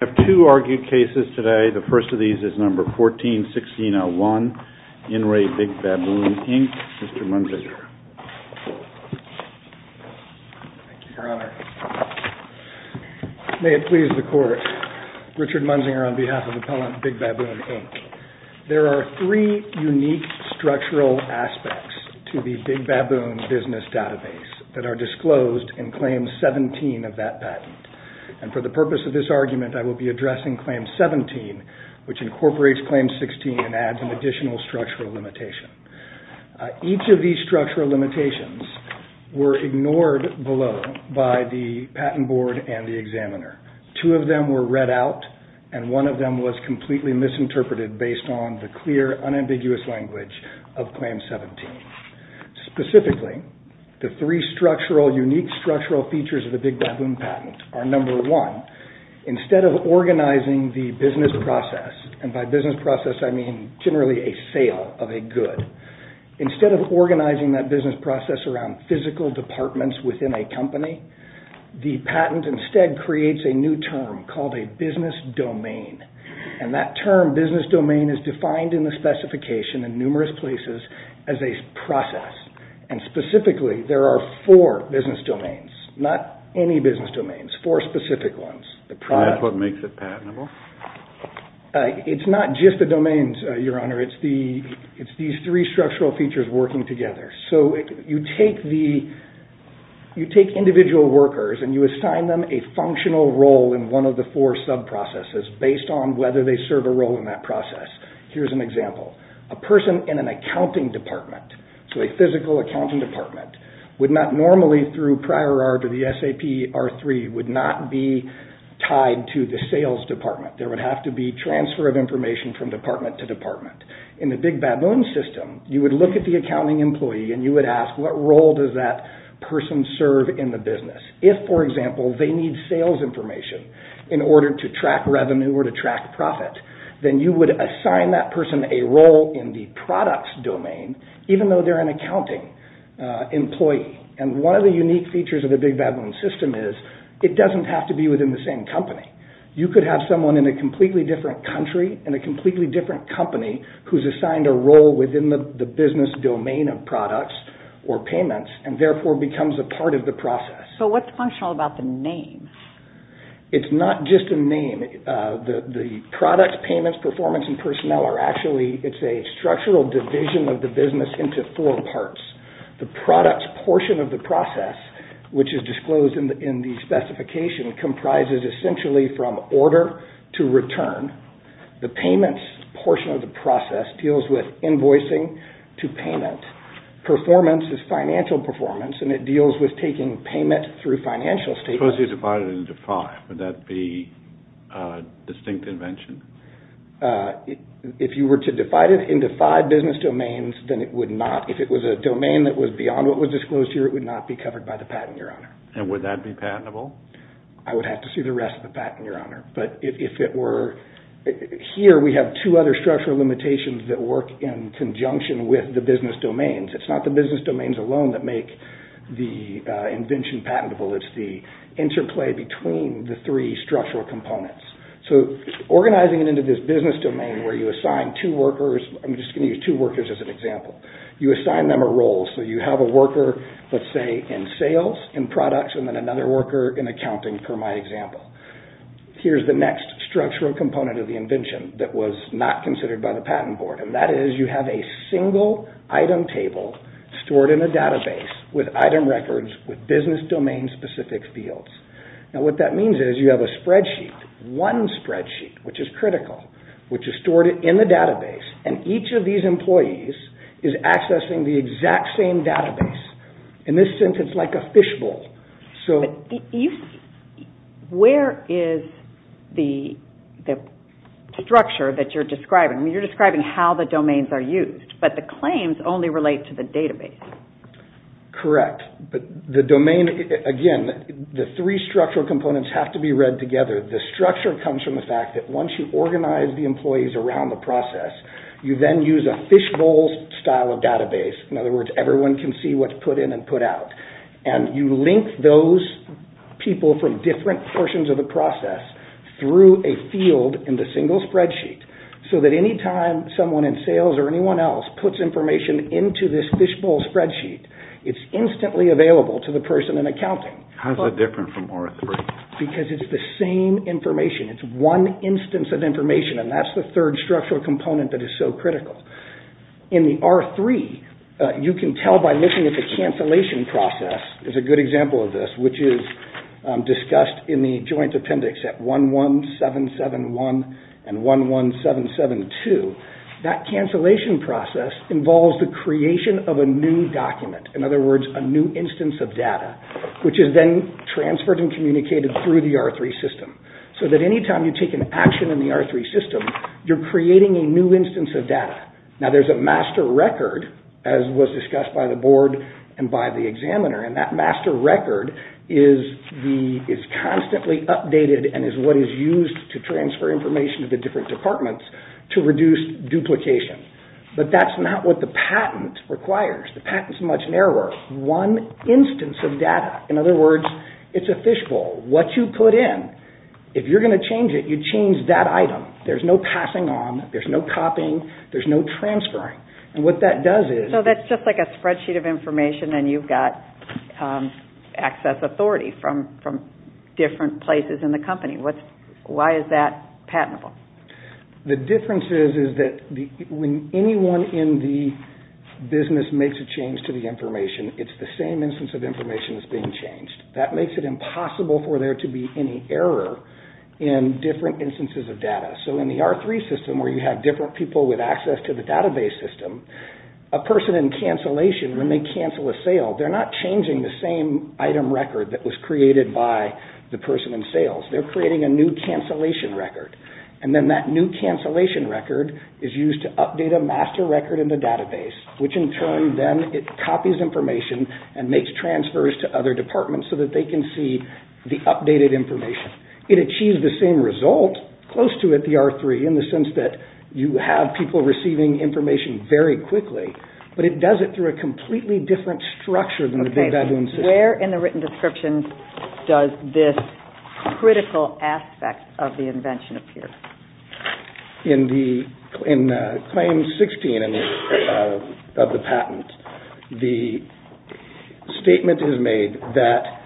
I have two argued cases today. The first of these is No. 14-1601, In Re Big Baboon, Inc., Mr. Munzinger. Thank you, Your Honor. May it please the Court, Richard Munzinger on behalf of Appellant Big Baboon, Inc. There are three unique structural aspects to the Big Baboon business database that are disclosed in Claim 17 of that patent. And for the purpose of this argument, I will be addressing Claim 17, which incorporates Claim 16 and adds an additional structural limitation. Each of these structural limitations were ignored below by the patent board and the examiner. Two of them were read out, and one of them was completely misinterpreted based on the clear, unambiguous language of Claim 17. Specifically, the three unique structural features of the Big Baboon patent are, No. 1, instead of organizing the business process, and by business process I mean generally a sale of a good, instead of organizing that business process around physical departments within a company, the patent instead creates a new term called a business domain. And that term, business domain, is defined in the specification in numerous places as a process. And specifically, there are four business domains, not any business domains, four specific ones. And that's what makes it patentable? It's not just the domains, Your Honor. It's these three structural features working together. So you take individual workers and you assign them a functional role in one of the four sub-processes based on whether they serve a role in that process. Here's an example. A person in an accounting department, so a physical accounting department, would not normally, through prior art of the SAP R3, would not be tied to the sales department. There would have to be transfer of information from department to department. In the Big Baboon system, you would look at the accounting employee and you would ask, what role does that person serve in the business? If, for example, they need sales information in order to track revenue or to track profit, then you would assign that person a role in the products domain, even though they're an accounting employee. And one of the unique features of the Big Baboon system is it doesn't have to be within the same company. You could have someone in a completely different country in a completely different company who's assigned a role within the business domain of products or payments and therefore becomes a part of the process. So what's functional about the name? It's not just a name. The products, payments, performance, and personnel are actually, it's a structural division of the business into four parts. The products portion of the process, which is disclosed in the specification, comprises essentially from order to return. The payments portion of the process deals with invoicing to payment. Performance is financial performance, and it deals with taking payment through financial statements. Suppose you divide it into five. Would that be a distinct invention? If you were to divide it into five business domains, then it would not, if it was a domain that was beyond what was disclosed here, it would not be covered by the patent, Your Honor. And would that be patentable? I would have to see the rest of the patent, Your Honor. But if it were, here we have two other structural limitations that work in conjunction with the business domains. It's not the business domains alone that make the invention patentable. It's the interplay between the three structural components. So organizing it into this business domain where you assign two workers, I'm just going to use two workers as an example, you assign them a role. So you have a worker, let's say, in sales, in products, and then another worker in accounting, for my example. Here's the next structural component of the invention that was not considered by the patent board, and that is you have a single item table stored in a database with item records with business domain specific fields. Now what that means is you have a spreadsheet, one spreadsheet, which is critical, which is stored in the database, and each of these employees is accessing the exact same database. In this sense, it's like a fishbowl. Where is the structure that you're describing? You're describing how the domains are used, but the claims only relate to the database. Correct, but the domain, again, the three structural components have to be read together. The structure comes from the fact that once you organize the employees around the process, you then use a fishbowl style of database. In other words, everyone can see what's put in and put out, and you link those people from different portions of the process through a field in the single spreadsheet, so that any time someone in sales or anyone else puts information into this fishbowl spreadsheet, it's instantly available to the person in accounting. How is that different from Oracle? Because it's the same information. It's one instance of information, and that's the third structural component that is so critical. In the R3, you can tell by looking at the cancellation process. There's a good example of this, which is discussed in the joint appendix at 11771 and 11772. That cancellation process involves the creation of a new document. In other words, a new instance of data, which is then transferred and communicated through the R3 system, so that any time you take an action in the R3 system, you're creating a new instance of data. Now, there's a master record, as was discussed by the board and by the examiner, and that master record is constantly updated and is what is used to transfer information to the different departments to reduce duplication, but that's not what the patent requires. The patent is much narrower. One instance of data, in other words, it's a fishbowl. What you put in, if you're going to change it, you change that item. There's no passing on. There's no copying. There's no transferring, and what that does is... So that's just like a spreadsheet of information, and you've got access authority from different places in the company. Why is that patentable? The difference is that when anyone in the business makes a change to the information, it's the same instance of information that's being changed. That makes it impossible for there to be any error in different instances of data. So in the R3 system, where you have different people with access to the database system, a person in cancellation, when they cancel a sale, they're not changing the same item record that was created by the person in sales. They're creating a new cancellation record, and then that new cancellation record is used to update a master record in the database, which in turn then copies information and makes transfers to other departments so that they can see the updated information. It achieves the same result, close to it, the R3, in the sense that you have people receiving information very quickly, but it does it through a completely different structure than the Big Bad Worm system. Where in the written description does this critical aspect of the invention appear? In Claim 16 of the patent, the statement is made that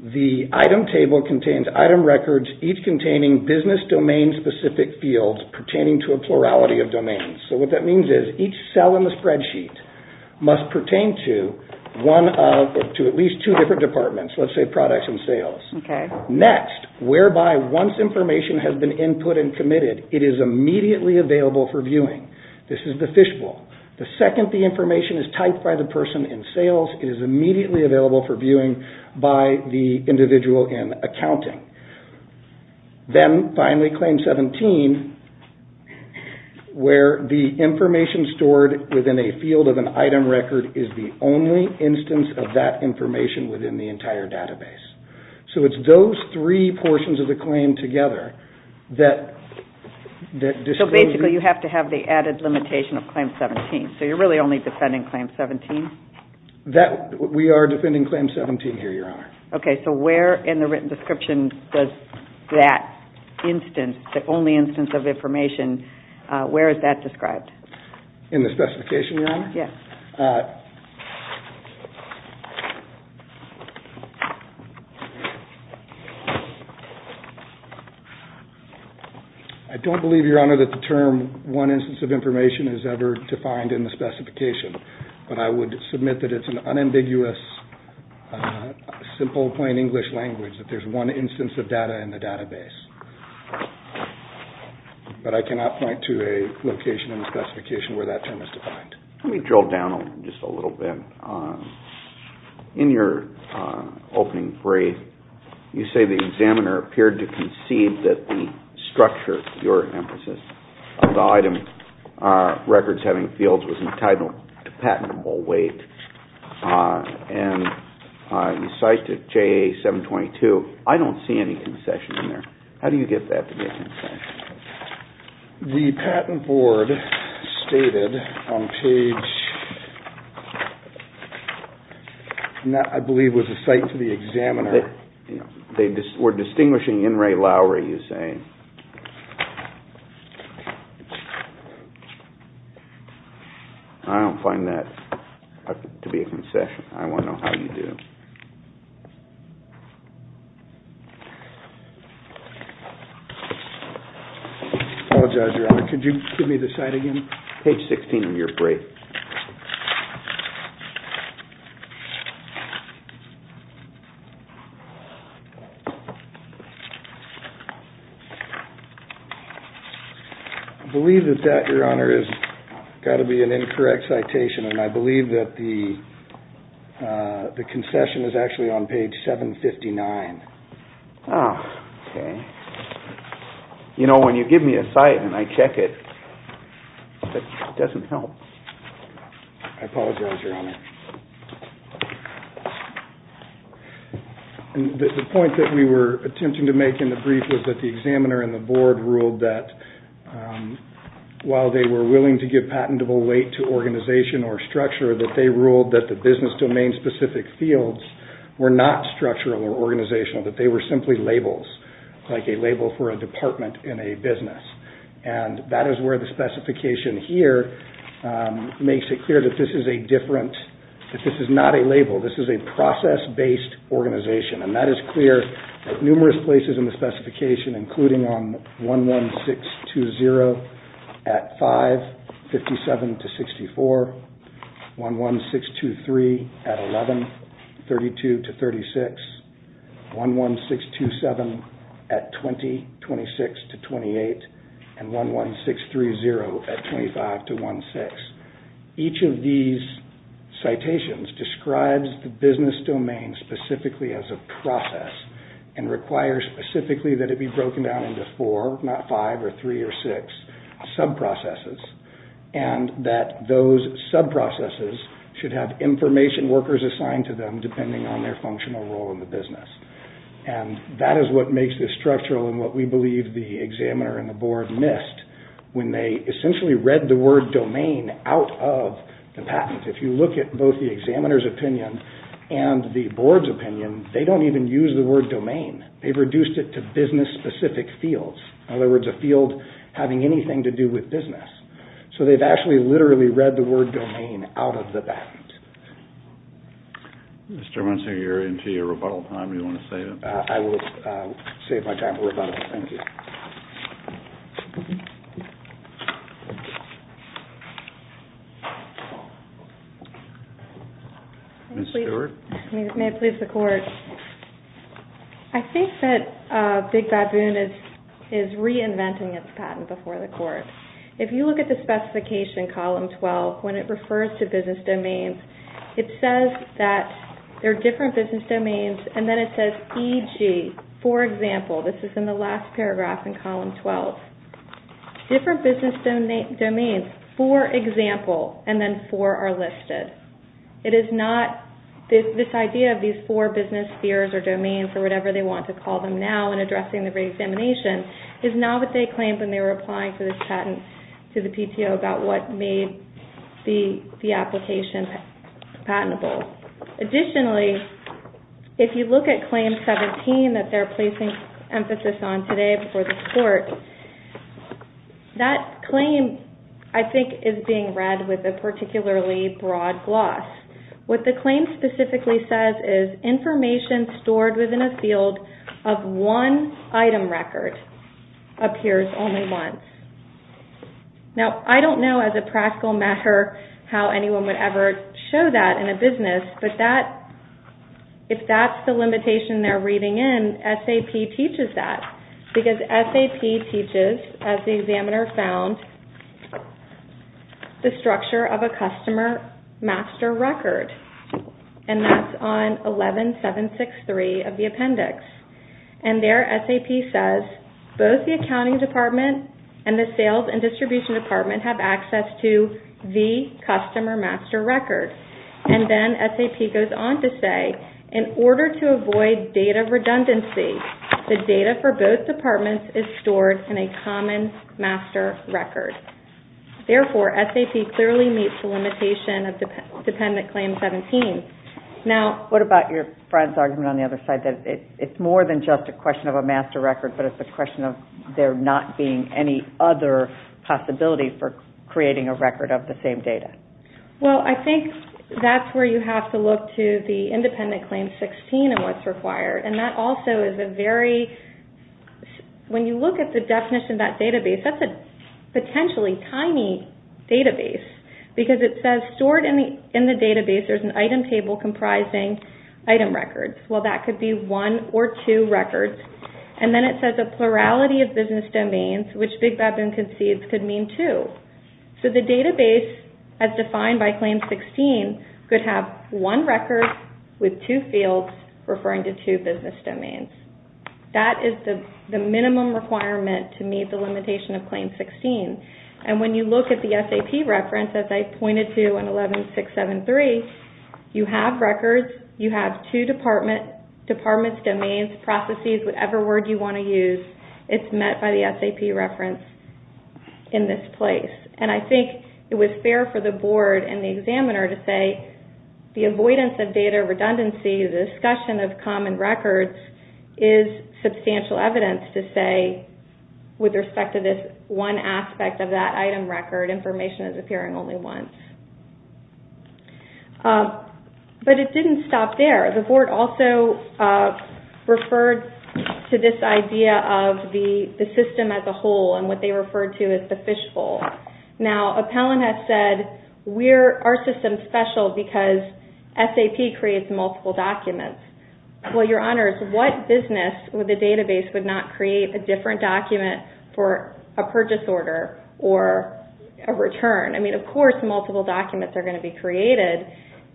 the item table contains item records, each containing business domain-specific fields pertaining to a plurality of domains. So what that means is each cell in the spreadsheet must pertain to at least two different departments, let's say products and sales. Next, whereby once information has been input and committed, it is immediately available for viewing. This is the fishbowl. The second the information is typed by the person in sales, it is immediately available for viewing by the individual in accounting. Then finally, Claim 17, where the information stored within a field of an item record is the only instance of that information within the entire database. So it's those three portions of the claim together that disclose... So basically you have to have the added limitation of Claim 17, so you're really only defending Claim 17? We are defending Claim 17 here, Your Honor. Okay, so where in the written description does that instance, the only instance of information, where is that described? In the specification? I don't believe, Your Honor, that the term one instance of information is ever defined in the specification, but I would submit that it's an unambiguous, simple, plain English language that there's one instance of data in the database. But I cannot point to a location in the specification where that term is defined. Let me drill down just a little bit. In your opening phrase, you say the examiner appeared to concede that the structure, your emphasis, of the item records having fields was entitled to patentable weight. And you cite it, JA 722. I don't see any concession in there. How do you get that to be a concession? The Patent Board stated on page... I believe it was a cite to the examiner. We're distinguishing In re Lauri, you say. I don't find that to be a concession. I want to know how you do. I apologize, Your Honor. Could you give me the cite again? Page 16 of your brief. I believe that that, Your Honor, has got to be an incorrect citation, and I believe that the concession is actually on page 759. Ah, OK. You know, when you give me a cite and I check it, it doesn't help. I apologize, Your Honor. The point that we were attempting to make in the brief was that the examiner and the board ruled that while they were willing to give patentable weight to organization or structure, that they ruled that the business domain-specific fields were not structural or organizational, that they were simply labels, like a label for a department in a business. And that is where the specification here makes it clear that this is a different that this is not a label, this is a process-based organization. And that is clear at numerous places in the specification, including on 11620 at 5, 57 to 64, 11623 at 11, 32 to 36, 11627 at 20, 26 to 28, and 11630 at 25 to 16. Each of these citations describes the business domain specifically as a process and requires specifically that it be broken down into four, not five or three or six, sub-processes, and that those sub-processes should have information workers assigned to them depending on their functional role in the business. And that is what makes this structural and what we believe the examiner and the board missed when they essentially read the word domain out of the patent. If you look at both the examiner's opinion and the board's opinion, they don't even use the word domain. They've reduced it to business-specific fields. In other words, a field having anything to do with business. So they've actually literally read the word domain out of the patent. Mr. Hermansen, you're into your rebuttal time. Do you want to save it? I will save my time for rebuttal. Thank you. Ms. Stewart? May it please the Court. I think that Big Baboon is reinventing its patent before the Court. If you look at the specification column 12, when it refers to business domains, it says that there are different business domains and then it says, e.g., for example. This is in the last paragraph in column 12. Different business domains, for example, and then for are listed. It is not this idea of these four business spheres or domains or whatever they want to call them now in addressing the reexamination is not what they claimed when they were applying for this patent to the PTO about what made the application patentable. Additionally, if you look at claim 17 that they're placing emphasis on today before the Court, that claim, I think, is being read with a particularly broad gloss. What the claim specifically says is information stored within a field of one item record appears only once. Now, I don't know as a practical matter how anyone would ever show that in a business, but if that's the limitation they're reading in, SAP teaches that because SAP teaches, as the examiner found, the structure of a customer master record. That's on 11763 of the appendix. There, SAP says both the accounting department and the sales and distribution department have access to the customer master record. Then SAP goes on to say in order to avoid data redundancy, the data for both departments is stored in a common master record. Therefore, SAP clearly meets the limitation of dependent claim 17. What about your friend's argument on the other side? It's more than just a question of a master record, but it's a question of there not being any other possibility for creating a record of the same data. Well, I think that's where you have to look to the independent claim 16 and what's required. When you look at the definition of that database, that's a potentially tiny database because it says stored in the database, there's an item table comprising item records. Well, that could be one or two records. Then it says a plurality of business domains, which Big Baboon concedes could mean two. The database, as defined by claim 16, could have one record with two fields referring to two business domains. That is the minimum requirement to meet the limitation of claim 16. When you look at the SAP reference, as I pointed to in 11.673, you have records, you have two departments, domains, processes, whatever word you want to use, it's met by the SAP reference in this place. And I think it was fair for the board and the examiner to say the avoidance of data redundancy, the discussion of common records, is substantial evidence to say with respect to this one aspect of that item record, information is appearing only once. But it didn't stop there. The board also referred to this idea of the system as a whole and what they referred to as the fishbowl. Now, Appellant has said our system is special because SAP creates multiple documents. Well, Your Honors, what business with a database would not create a different document for a purchase order or a return? I mean, of course multiple documents are going to be created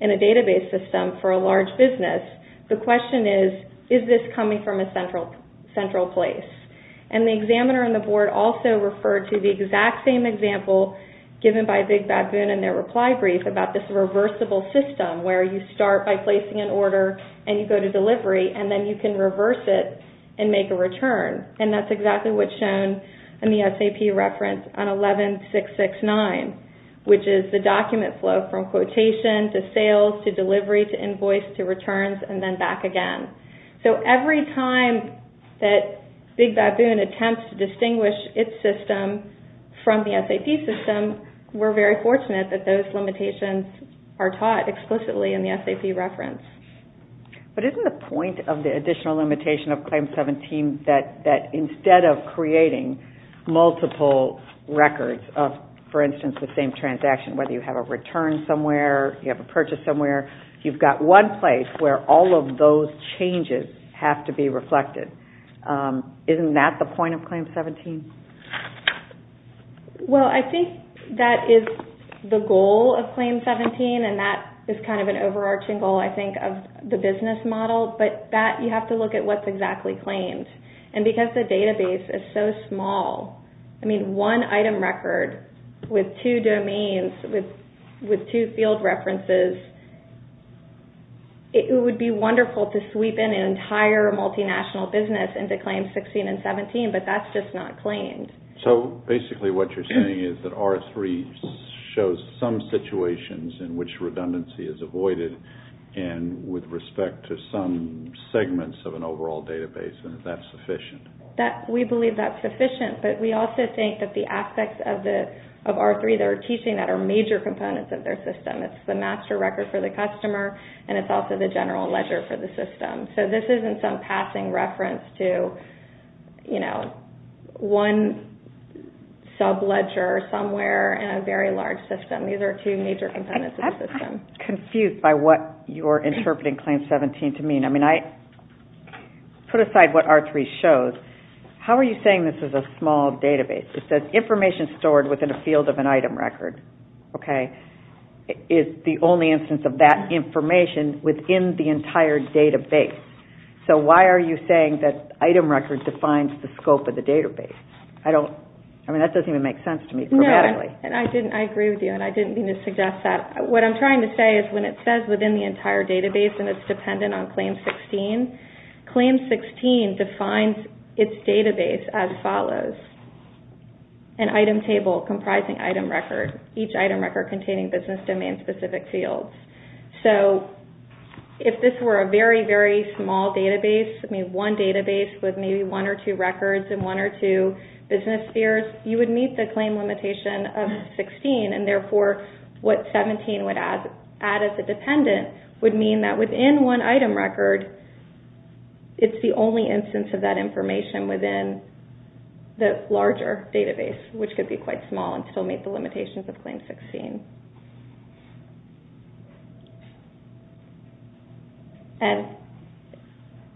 in a database system for a large business. The question is, is this coming from a central place? And the examiner and the board also referred to the exact same example given by Big Baboon in their reply brief about this reversible system where you start by placing an order and you go to delivery and then you can reverse it and make a return. And that's exactly what's shown in the SAP reference on 11.669, which is the document flow from quotation to sales to delivery to invoice to returns and then back again. So every time that Big Baboon attempts to distinguish its system from the SAP system, we're very fortunate that those limitations are taught explicitly in the SAP reference. But isn't the point of the additional limitation of Claim 17 that instead of creating multiple records of, for instance, the same transaction, whether you have a return somewhere, you have a purchase somewhere, you've got one place where all of those changes have to be reflected? Isn't that the point of Claim 17? Well, I think that is the goal of Claim 17 and that is kind of an overarching goal, I think, of the business model. But that, you have to look at what's exactly claimed. And because the database is so small, I mean, one item record with two domains, with two field references, it would be wonderful to sweep in an entire multinational business into Claim 16 and 17, but that's just not claimed. So basically what you're saying is that R3 shows some situations in which redundancy is avoided and with respect to some segments of an overall database and that's sufficient. We believe that's sufficient, but we also think that the aspects of R3 that we're teaching that are major components of their system. It's the master record for the customer and it's also the general ledger for the system. So this isn't some passing reference to one sub-ledger somewhere in a very large system. These are two major components of the system. I'm confused by what you're interpreting Claim 17 to mean. I mean, I put aside what R3 shows. How are you saying this is a small database? It says information stored within a field of an item record is the only instance of that information within the entire database. So why are you saying that item record defines the scope of the database? I mean, that doesn't even make sense to me grammatically. I agree with you and I didn't mean to suggest that. What I'm trying to say is when it says within the entire database and it's dependent on Claim 16, Claim 16 defines its database as follows. An item table comprising item record, each item record containing business domain specific fields. So if this were a very, very small database, I mean one database with maybe one or two records and one or two business spheres, you would meet the claim limitation of 16 and therefore what 17 would add as a dependent would mean that within one item record it's the only instance of that information within the larger database, which could be quite small and still meet the limitations of Claim 16. And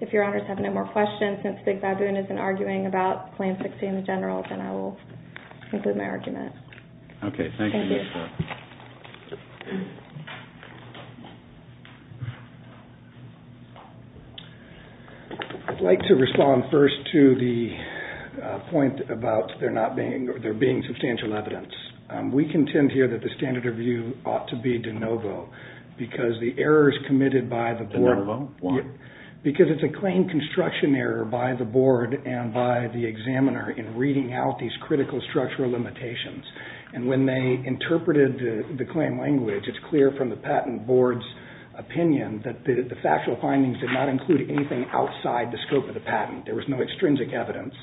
if Your Honors have no more questions, since Big Baboon isn't arguing about Claim 16 in general, then I will conclude my argument. Okay, thank you. I'd like to respond first to the point about there being substantial evidence. We contend here that the standard review ought to be de novo because the errors committed by the board. De novo, why? Because it's a claim construction error by the board and by the examiner in reading out these critical structural limitations. And when they interpreted the claim language, it's clear from the patent board's opinion that the factual findings did not include anything outside the scope of the patent. There was no extrinsic evidence.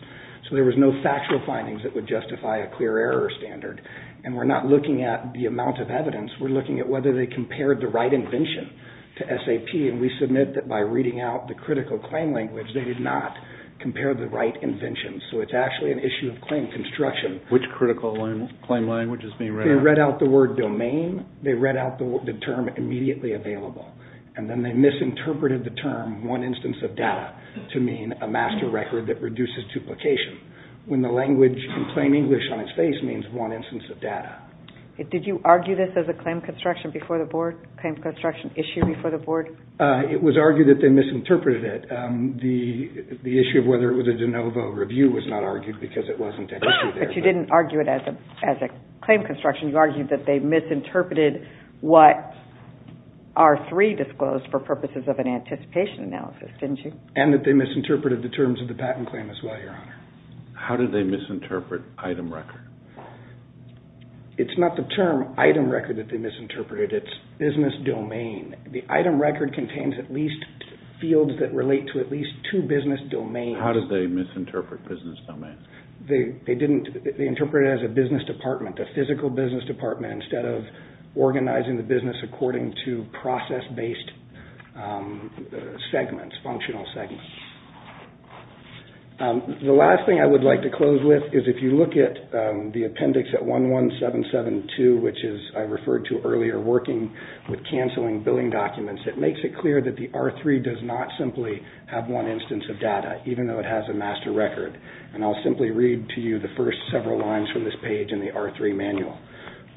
So there was no factual findings that would justify a clear error standard. And we're not looking at the amount of evidence. We're looking at whether they compared the right invention to SAP. And we submit that by reading out the critical claim language, they did not compare the right invention. So it's actually an issue of claim construction. Which critical claim language is being read out? They read out the word domain. They read out the term immediately available. And then they misinterpreted the term one instance of data to mean a master record that reduces duplication, when the language in plain English on its face means one instance of data. Did you argue this as a claim construction issue before the board? It was argued that they misinterpreted it. The issue of whether it was a de novo review was not argued because it wasn't an issue there. But you didn't argue it as a claim construction. You argued that they misinterpreted what R3 disclosed for purposes of an anticipation analysis, didn't you? And that they misinterpreted the terms of the patent claim as well, Your Honor. How did they misinterpret item record? It's not the term item record that they misinterpreted. It's business domain. The item record contains at least fields that relate to at least two business domains. How did they misinterpret business domain? They interpreted it as a business department, a physical business department, instead of organizing the business according to process-based segments, functional segments. The last thing I would like to close with is if you look at the appendix at 11772, which I referred to earlier working with canceling billing documents, it makes it clear that the R3 does not simply have one instance of data, even though it has a master record. And I'll simply read to you the first several lines from this page in the R3 manual.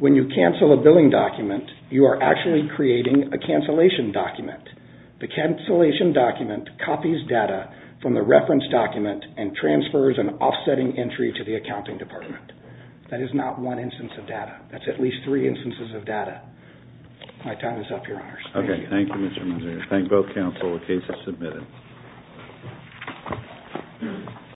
When you cancel a billing document, you are actually creating a cancellation document. The cancellation document copies data from the reference document and transfers an offsetting entry to the accounting department. That is not one instance of data. That's at least three instances of data. My time is up, Your Honors. Thank you. Okay, thank you, Mr. Munzer. Thank both counsel. The case is submitted.